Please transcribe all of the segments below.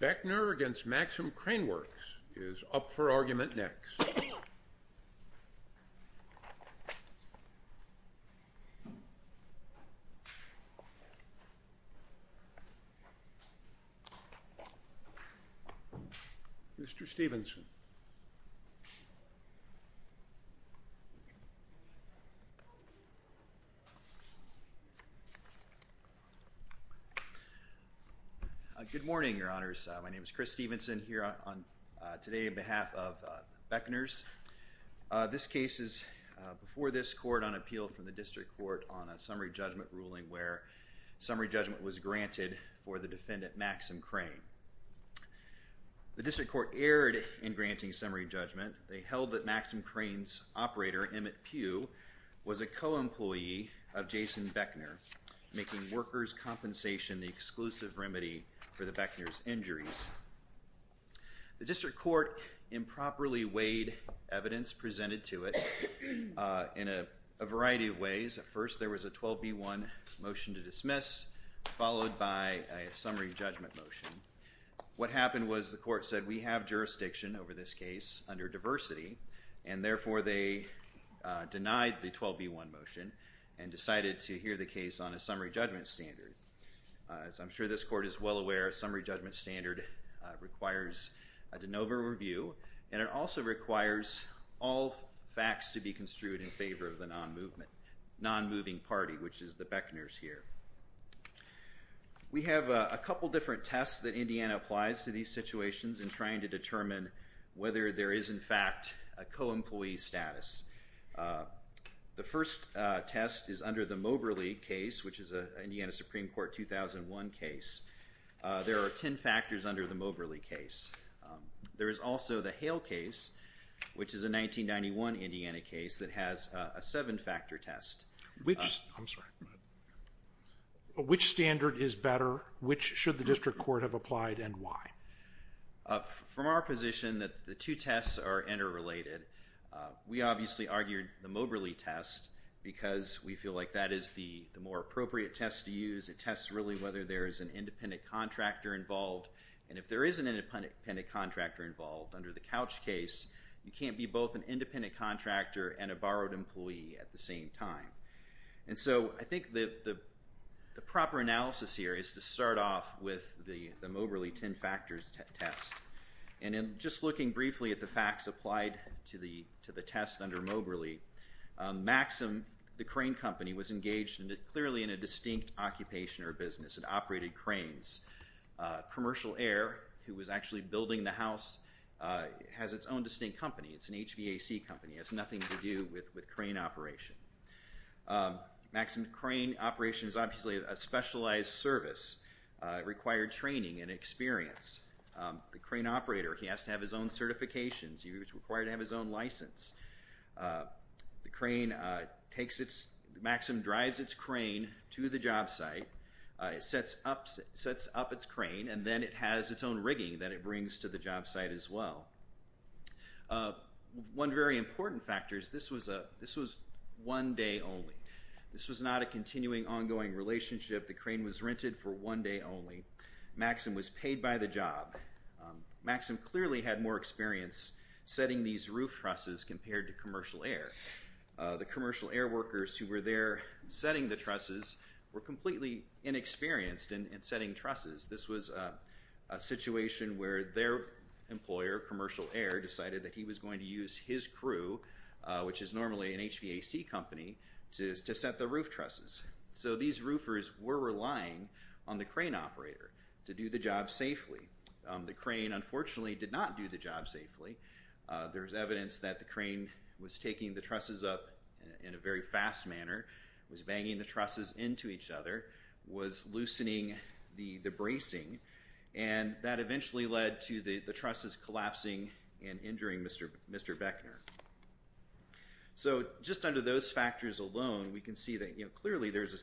Beckner v. Maxim Crane Works is up for argument next. Mr. Stephenson. Good morning, Your Honors. My name is Chris Stephenson here today on behalf of Beckner's. This case is before this court on appeal from the District Court on a summary judgment ruling where summary judgment was granted for the defendant Maxim Crane. The District Court erred in granting summary judgment. They held that Maxim Crane's operator, Emmett Pugh, was a co-employee of Jason Beckner, making workers' compensation the exclusive remedy for the Beckner's injuries. The District Court improperly weighed evidence presented to it in a variety of ways. At first there was a 12b1 motion to dismiss, followed by a summary judgment motion. What happened was the court said we have jurisdiction over this case under diversity, and therefore they denied the 12b1 motion and decided to hear the summary judgment standard. As I'm sure this court is well aware, a summary judgment standard requires a de novo review, and it also requires all facts to be construed in favor of the non-moving party, which is the Beckner's here. We have a couple different tests that Indiana applies to these situations in trying to determine whether there is, in fact, a co-employee status. The first test is under the Moberly case, which is an Indiana Supreme Court 2001 case. There are ten factors under the Moberly case. There is also the Hale case, which is a 1991 Indiana case that has a seven-factor test. Which standard is better? Which should the District Court have applied, and why? From our position that the two tests are interrelated, we obviously argued the Moberly because we feel like that is the more appropriate test to use. It tests really whether there is an independent contractor involved, and if there is an independent contractor involved under the Couch case, you can't be both an independent contractor and a borrowed employee at the same time. And so I think the proper analysis here is to start off with the Moberly ten factors test. And in just looking briefly at the facts applied to the test under Maxim, the crane company was engaged clearly in a distinct occupation or business. It operated cranes. Commercial Air, who was actually building the house, has its own distinct company. It's an HVAC company. It has nothing to do with crane operation. Maxim, crane operation is obviously a specialized service. It required training and experience. The crane operator, he has to have his own Maxim drives its crane to the job site. It sets up its crane, and then it has its own rigging that it brings to the job site as well. One very important factor is this was one day only. This was not a continuing, ongoing relationship. The crane was rented for one day only. Maxim was paid by the job. Maxim clearly had more experience setting these roof trusses compared to Commercial Air. The Commercial Air workers who were there setting the trusses were completely inexperienced in setting trusses. This was a situation where their employer, Commercial Air, decided that he was going to use his crew, which is normally an HVAC company, to set the roof trusses. So these roofers were relying on the crane operator to do the job safely. The crane, unfortunately, did not do the job safely. There's evidence that the crane was taking the trusses up in a very fast manner, was banging the trusses into each other, was loosening the bracing, and that eventually led to the trusses collapsing and injuring Mr. Bechner. So just under those factors alone, we can see that, you know, clearly there's a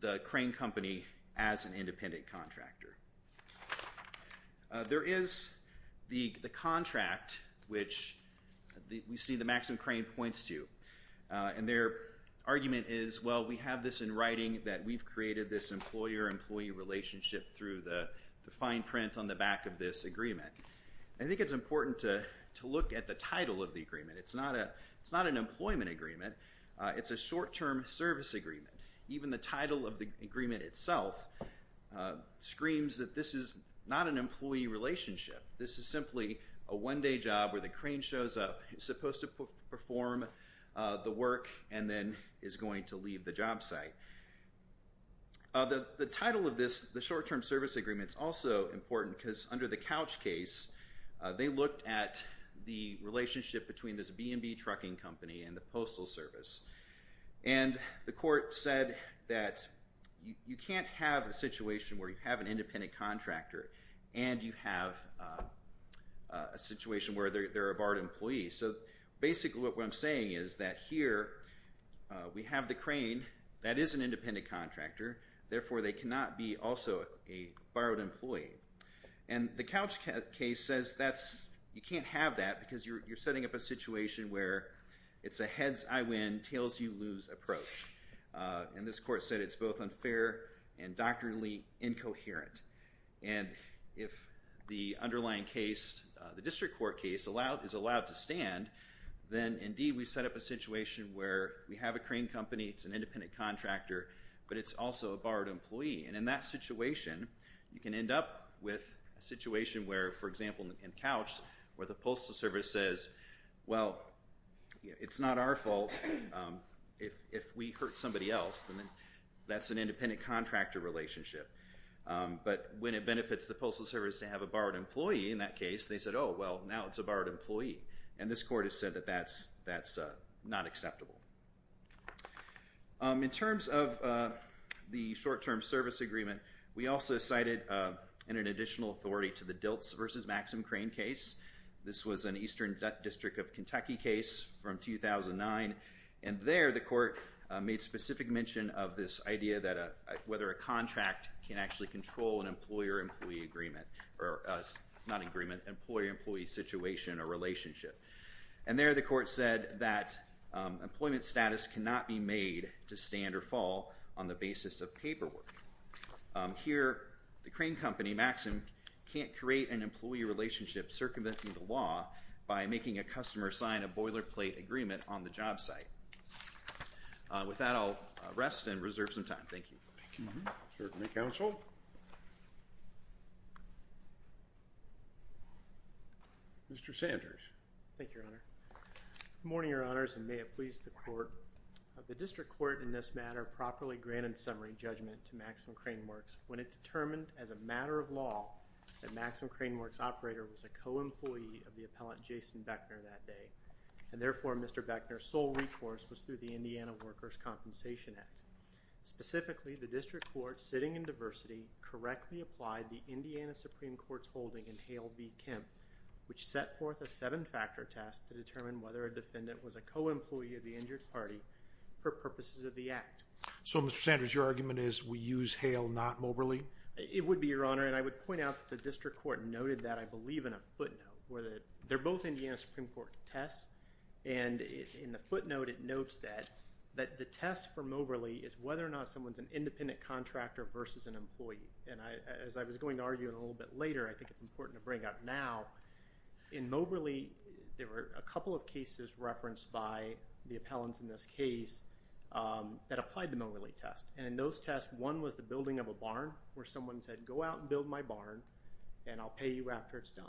the crane company as an independent contractor. There is the contract, which we see that Maxim Crane points to, and their argument is, well, we have this in writing that we've created this employer- employee relationship through the fine print on the back of this agreement. I think it's important to look at the title of the agreement. It's not an employment agreement. It's a short-term service agreement. Even the title of the agreement itself screams that this is not an employee relationship. This is simply a one-day job where the crane shows up, it's supposed to perform the work, and then is going to leave the job site. The title of this, the short-term service agreement, is also important because under the Couch case, they looked at the relationship between this B&B trucking company and the Postal Service. And the court said that you can't have a situation where you have an independent contractor and you have a situation where they're a borrowed employee. So basically what I'm saying is that here we have the crane that is an independent contractor, therefore they cannot be also a borrowed employee. And the Couch case says you can't have that because you're setting up a situation where it's a heads-I-win, tails-you-lose approach. And this court said it's both unfair and doctrinally incoherent. And if the underlying case, the district court case, is allowed to stand, then indeed we've set up a situation where we have a crane company, it's an independent contractor, but it's also a borrowed employee. And in that situation, you can end up with a situation where, for example, in Couch, where the Postal Service says, well, it's not our fault if we hurt somebody else. That's an independent contractor relationship. But when it benefits the Postal Service to have a borrowed employee in that case, they said, oh, well, now it's a borrowed employee. And this court has said that that's not acceptable. In terms of the short-term service agreement, we also cited an additional authority to the Diltz v. Maxim Crane case. This was an Eastern District of Kentucky case from 2009. And there the court made specific mention of this idea that whether a contract can actually control an employer-employee agreement, or not agreement, employer-employee situation or relationship. And there the agreement status cannot be made to stand or fall on the basis of paperwork. Here, the crane company, Maxim, can't create an employee relationship circumventing the law by making a customer sign a boilerplate agreement on the job site. With that, I'll rest and reserve some time. Thank you. Certainly, counsel. Mr. Sanders. Thank you, Your Honor. Good morning, Your Honors, and may it please the Court. The District Court in this matter properly granted summary judgment to Maxim Crane Works when it determined as a matter of law that Maxim Crane Works' operator was a co-employee of the appellant Jason Beckner that day. And therefore, Mr. Beckner's sole recourse was through the Indiana Workers' Compensation Act. Specifically, the District Court, sitting in diversity, correctly applied the Indiana Supreme Court's holding in Hale v. Kemp, which set forth a seven-factor test to determine whether a defendant was a co-employee of the injured party for purposes of the act. So, Mr. Sanders, your argument is we use Hale, not Moberly? It would be, Your Honor, and I would point out that the District Court noted that, I believe, in a footnote. They're both Indiana Supreme Court tests, and in the footnote, it notes that the test for Moberly is whether or not someone's an independent contractor versus an employee. And as I was going to argue a little bit later, I think it's important to bring up now, in Moberly, there were a couple of cases referenced by the appellants in this case that applied the Moberly test. And in those tests, one was the building of a barn where someone said, Go out and build my barn, and I'll pay you after it's done.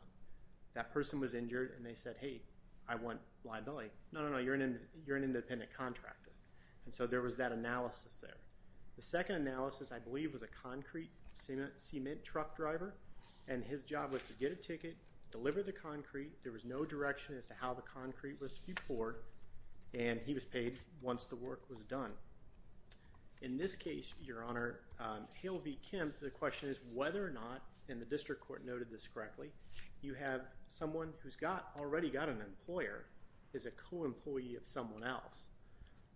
That person was injured, and they said, Hey, I want liability. No, no, no, you're an independent contractor. And so there was that analysis there. The second analysis, I believe, was a concrete cement truck driver, and his job was to get a ticket, deliver the concrete. There was no direction as to how the concrete was to be poured, and he was paid once the work was done. In this case, Your Honor, Hale v. Kemp, the question is whether or not, and the District Court noted this correctly, you have someone who's already got an employer as a co-employee of someone else.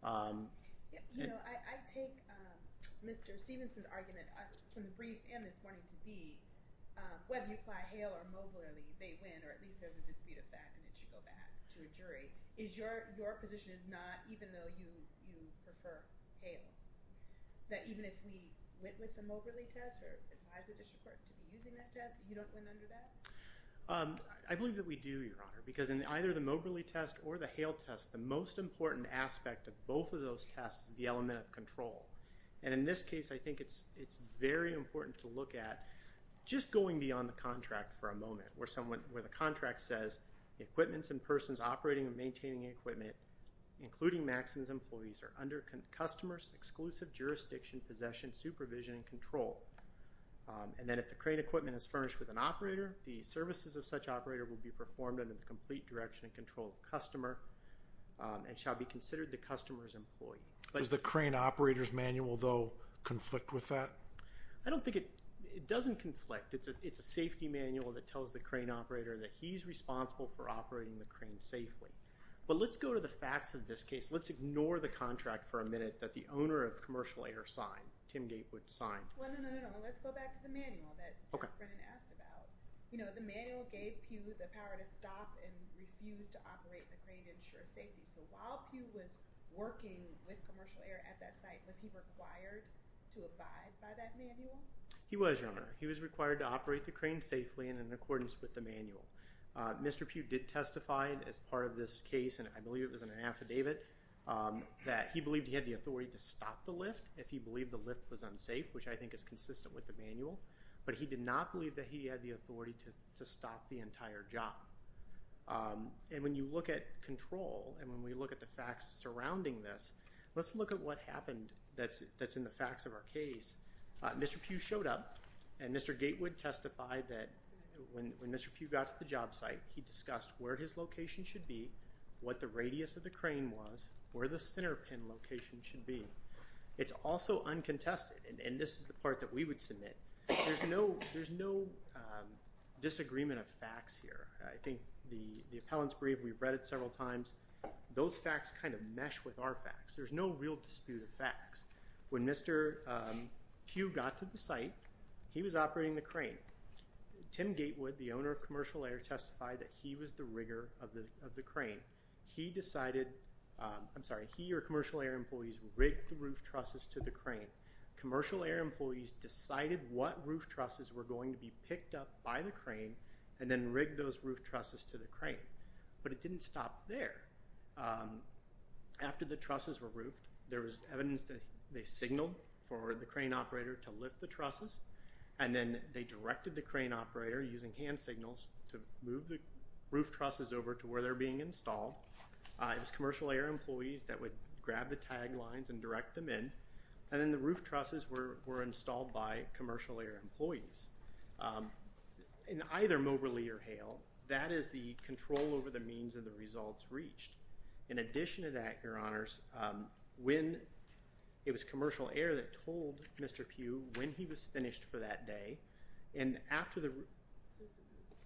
You know, I take Mr. Stevenson's argument from the briefs and this morning to be, whether you apply Hale or Moberly, they win, or at least there's a dispute of fact, and it should go back to a jury. Is your position is not, even though you prefer Hale, that even if we went with the Moberly test or advised the District Court to be using that test, you don't win under that? I believe that we do, Your Honor, because in either the Moberly test or the Hale test, the most important aspect of both of those tests is the element of control. And in this case, I think it's very important to look at just going beyond the contract for a moment, where the contract says, Equipments and persons operating and maintaining equipment, including Maxim's employees, are under customer's exclusive jurisdiction, possession, supervision, and control. And then if the crane equipment is furnished with an operator, the services of such operator will be performed under the complete direction and control of the customer and shall be considered the customer's employee. Does the crane operator's manual, though, conflict with that? I don't think it doesn't conflict. It's a safety manual that tells the crane operator that he's responsible for operating the crane safely. But let's go to the facts of this case. Let's ignore the contract for a minute that the owner of Commercial Air signed, Tim Gatewood signed. No, no, no, no. Let's go back to the manual that Brennan asked about. You know, the manual gave Pew the power to stop and refuse to operate the crane to ensure safety. So while Pew was working with Commercial Air at that site, was he required to abide by that manual? He was, Your Honor. He was required to operate the crane safely in accordance with the manual. Mr. Pew did testify as part of this case, and I believe it was in an affidavit, that he believed he had the authority to stop the lift if he believed the lift was unsafe, which I think is consistent with the manual. But he did not believe that he had the authority to stop the entire job. And when you look at control and when we look at the facts surrounding this, let's look at what happened that's in the facts of our case. Mr. Pew showed up, and Mr. Gatewood testified that when Mr. Pew got to the job site, he discussed where his location should be, what the radius of the crane was, where the center pin location should be. It's also uncontested, and this is the part that we would submit. There's no disagreement of facts here. I think the appellant's brief, we've read it several times. Those facts kind of mesh with our facts. There's no real dispute of facts. When Mr. Pew got to the site, he was operating the crane. Tim Gatewood, the owner of Commercial Air, testified that he was the rigger of the crane. He decided, I'm sorry, he or Commercial Air employees rigged the roof trusses to the crane. Commercial Air employees decided what roof trusses were going to be picked up by the crane and then rigged those roof trusses to the crane. But it didn't stop there. After the trusses were roofed, there was evidence that they signaled for the crane operator to lift the trusses, and then they directed the crane operator, using hand signals, to move the roof trusses over to where they're being installed. It was Commercial Air employees that would grab the tag lines and direct them in, and then the roof trusses were installed by Commercial Air employees. In either Moberly or Hale, that is the control over the means and the results reached. In addition to that, Your Honors, when it was Commercial Air that told Mr. Pew when he was finished for that day, and after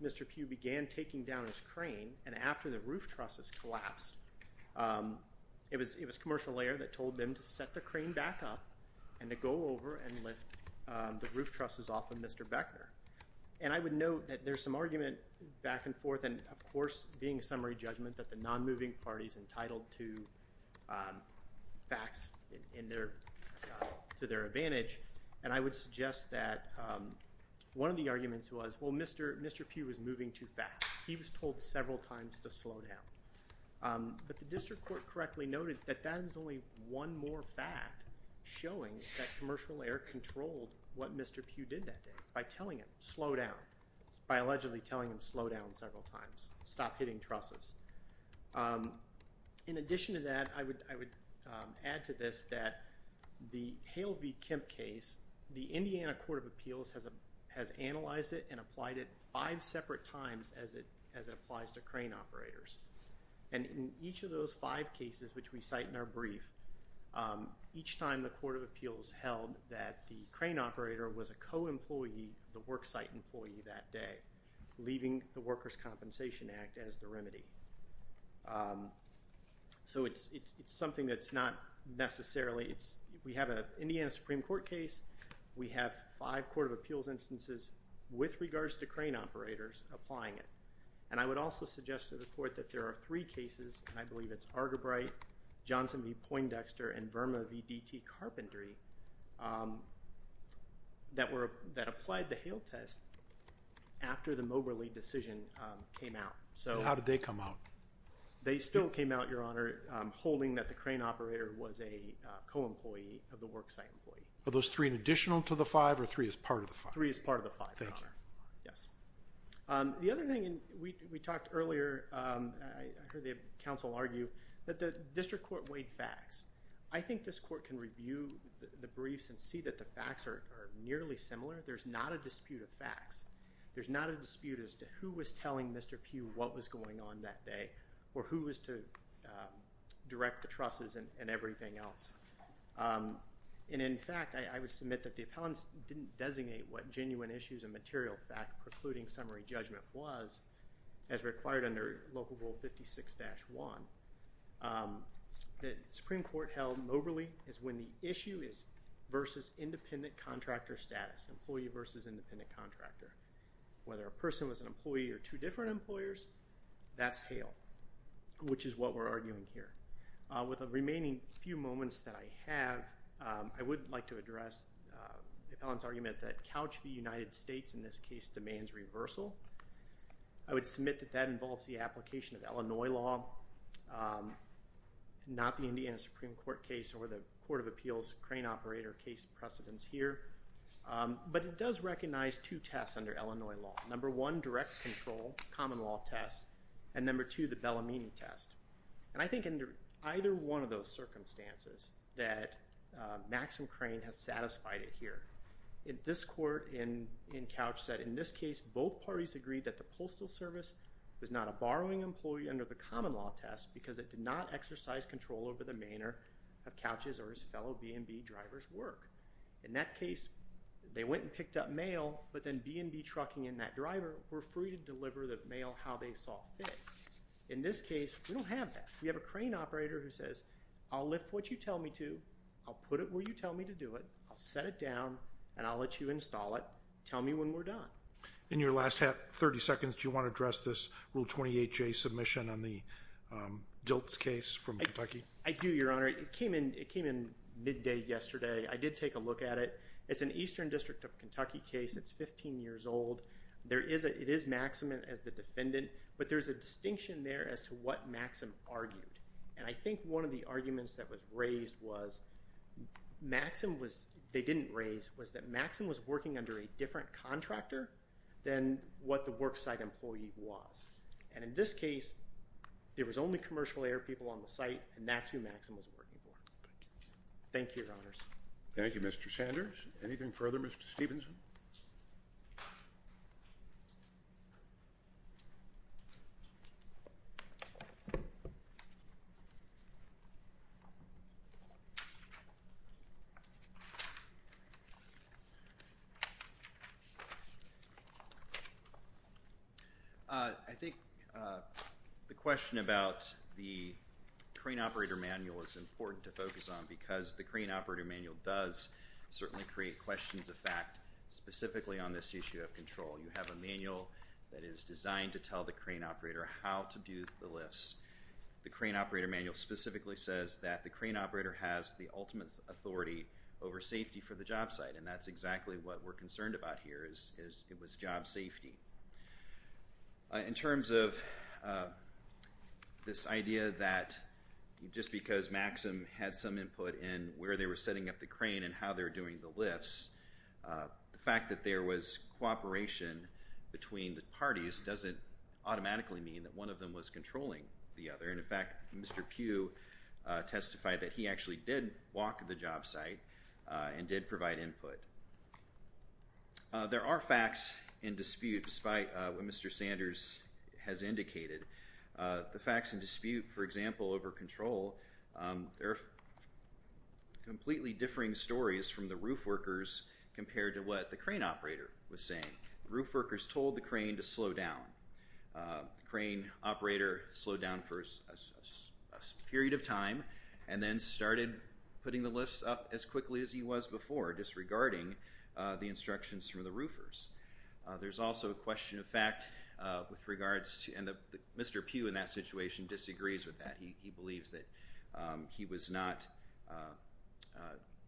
Mr. Pew began taking down his crane and after the roof trusses collapsed, it was Commercial Air that told them to set the crane back up and to go over and lift the roof trusses off of Mr. Beckner. And I would note that there's some argument back and forth, and, of course, being a summary judgment that the non-moving party is entitled to facts to their advantage, and I would suggest that one of the arguments was, well, Mr. Pew was moving too fast. He was told several times to slow down. But the district court correctly noted that that is only one more fact showing that Commercial Air controlled what Mr. Pew did that day, by telling him slow down, by allegedly telling him slow down several times, stop hitting trusses. In addition to that, I would add to this that the Hale v. Kemp case, the Indiana Court of Appeals has analyzed it and applied it five separate times as it applies to crane operators. And in each of those five cases, which we cite in our brief, each time the Court of Appeals held that the crane operator was a co-employee, the worksite employee that day, leaving the Workers' Compensation Act as the remedy. So it's something that's not necessarily – we have an Indiana Supreme Court case. We have five Court of Appeals instances with regards to crane operators applying it. And I would also suggest to the Court that there are three cases, and I believe it's Argybright, Johnson v. Poindexter, and Verma v. DT Carpentry, that applied the Hale test after the Moberly decision came out. And how did they come out? They still came out, Your Honor, holding that the crane operator was a co-employee of the worksite employee. Are those three an additional to the five, or three as part of the five? Three as part of the five, Your Honor. Thank you. Yes. The other thing we talked earlier, I heard the counsel argue that the district court weighed facts. I think this court can review the briefs and see that the facts are nearly similar. There's not a dispute of facts. There's not a dispute as to who was telling Mr. Pugh what was going on that day or who was to direct the trusses and everything else. And, in fact, I would submit that the appellants didn't designate what genuine issues and material fact precluding summary judgment was as required under Local Rule 56-1. The Supreme Court held Moberly is when the issue is versus independent contractor status, employee versus independent contractor. Whether a person was an employee or two different employers, that's Hale, which is what we're arguing here. With the remaining few moments that I have, I would like to address the appellant's argument that Couch v. United States in this case demands reversal. I would submit that that involves the application of Illinois law, not the Indiana Supreme Court case or the Court of Appeals crane operator case precedence here. But it does recognize two tests under Illinois law. Number one, direct control, common law test, and number two, the Bellamine test. And I think under either one of those circumstances that Maxim Crane has satisfied it here. This court in Couch said in this case both parties agreed that the Postal Service was not a borrowing employee under the common law test because it did not exercise control over the manner of Couch's or his fellow B&B drivers' work. In that case, they went and picked up mail, but then B&B trucking and that driver were free to deliver the mail how they saw fit. In this case, we don't have that. We have a crane operator who says, I'll lift what you tell me to, I'll put it where you tell me to do it, I'll set it down, and I'll let you install it. Tell me when we're done. In your last 30 seconds, do you want to address this Rule 28J submission on the Diltz case from Kentucky? I do, Your Honor. It came in midday yesterday. I did take a look at it. It's an Eastern District of Kentucky case. It's 15 years old. It is Maxam as the defendant, but there's a distinction there as to what Maxam argued. And I think one of the arguments that was raised was, Maxam was, they didn't raise, was that Maxam was working under a different contractor than what the worksite employee was. And in this case, there was only commercial air people on the site, and that's who Maxam was working for. Thank you, Your Honors. Thank you, Mr. Sanders. Anything further, Mr. Stephenson? I think the question about the crane operator manual is important to focus on because the crane operator manual does certainly create questions of fact specifically on this issue of control. You have a manual that is designed to tell the crane operator how to do the lifts. The crane operator manual specifically says that the crane operator has the ultimate authority over safety for the jobsite, and that's exactly what we're concerned about here is it was job safety. In terms of this idea that just because Maxam had some input in where they were setting up the crane and how they were doing the lifts, the fact that there was cooperation between the parties doesn't automatically mean that one of them was controlling the other. And, in fact, Mr. Pugh testified that he actually did walk the jobsite and did provide input. There are facts in dispute, despite what Mr. Sanders has indicated. The facts in dispute, for example, over control, they're completely differing stories from the roof workers compared to what the crane operator was saying. The roof workers told the crane to slow down. The crane operator slowed down for a period of time and then started putting the lifts up as quickly as he was before, disregarding the instructions from the roofers. There's also a question of fact with regards to, and Mr. Pugh in that situation disagrees with that. He believes that he was not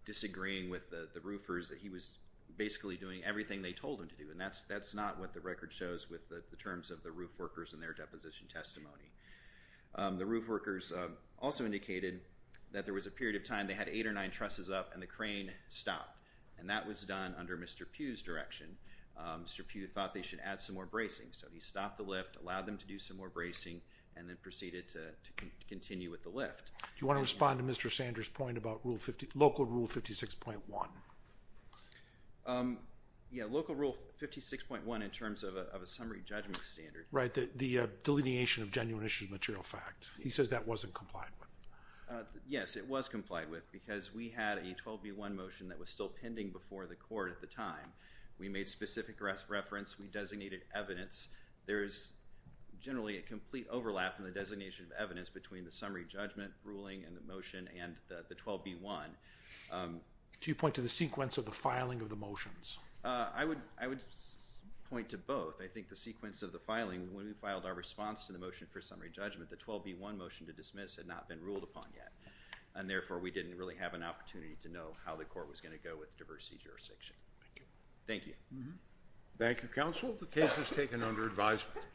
disagreeing with the roofers, that he was basically doing everything they told him to do, and that's not what the record shows with the terms of the roof workers and their deposition testimony. The roof workers also indicated that there was a period of time they had eight or nine trusses up and the crane stopped, and that was done under Mr. Pugh's direction. Mr. Pugh thought they should add some more bracing, so he stopped the lift, allowed them to do some more bracing, and then proceeded to continue with the lift. Do you want to respond to Mr. Sanders' point about Local Rule 56.1? Yeah, Local Rule 56.1 in terms of a summary judgment standard. Right, the delineation of genuine issues of material fact. He says that wasn't complied with. Yes, it was complied with because we had a 12B1 motion that was still pending before the court at the time. We made specific reference. We designated evidence. There's generally a complete overlap in the designation of evidence between the summary judgment ruling and the motion and the 12B1. Do you point to the sequence of the filing of the motions? I would point to both. I think the sequence of the filing, when we filed our response to the motion for summary judgment, the 12B1 motion to dismiss had not been ruled upon yet, and therefore we didn't really have an opportunity to know how the court was going to go with diversity jurisdiction. Thank you. Thank you, counsel. The case is taken under advisement.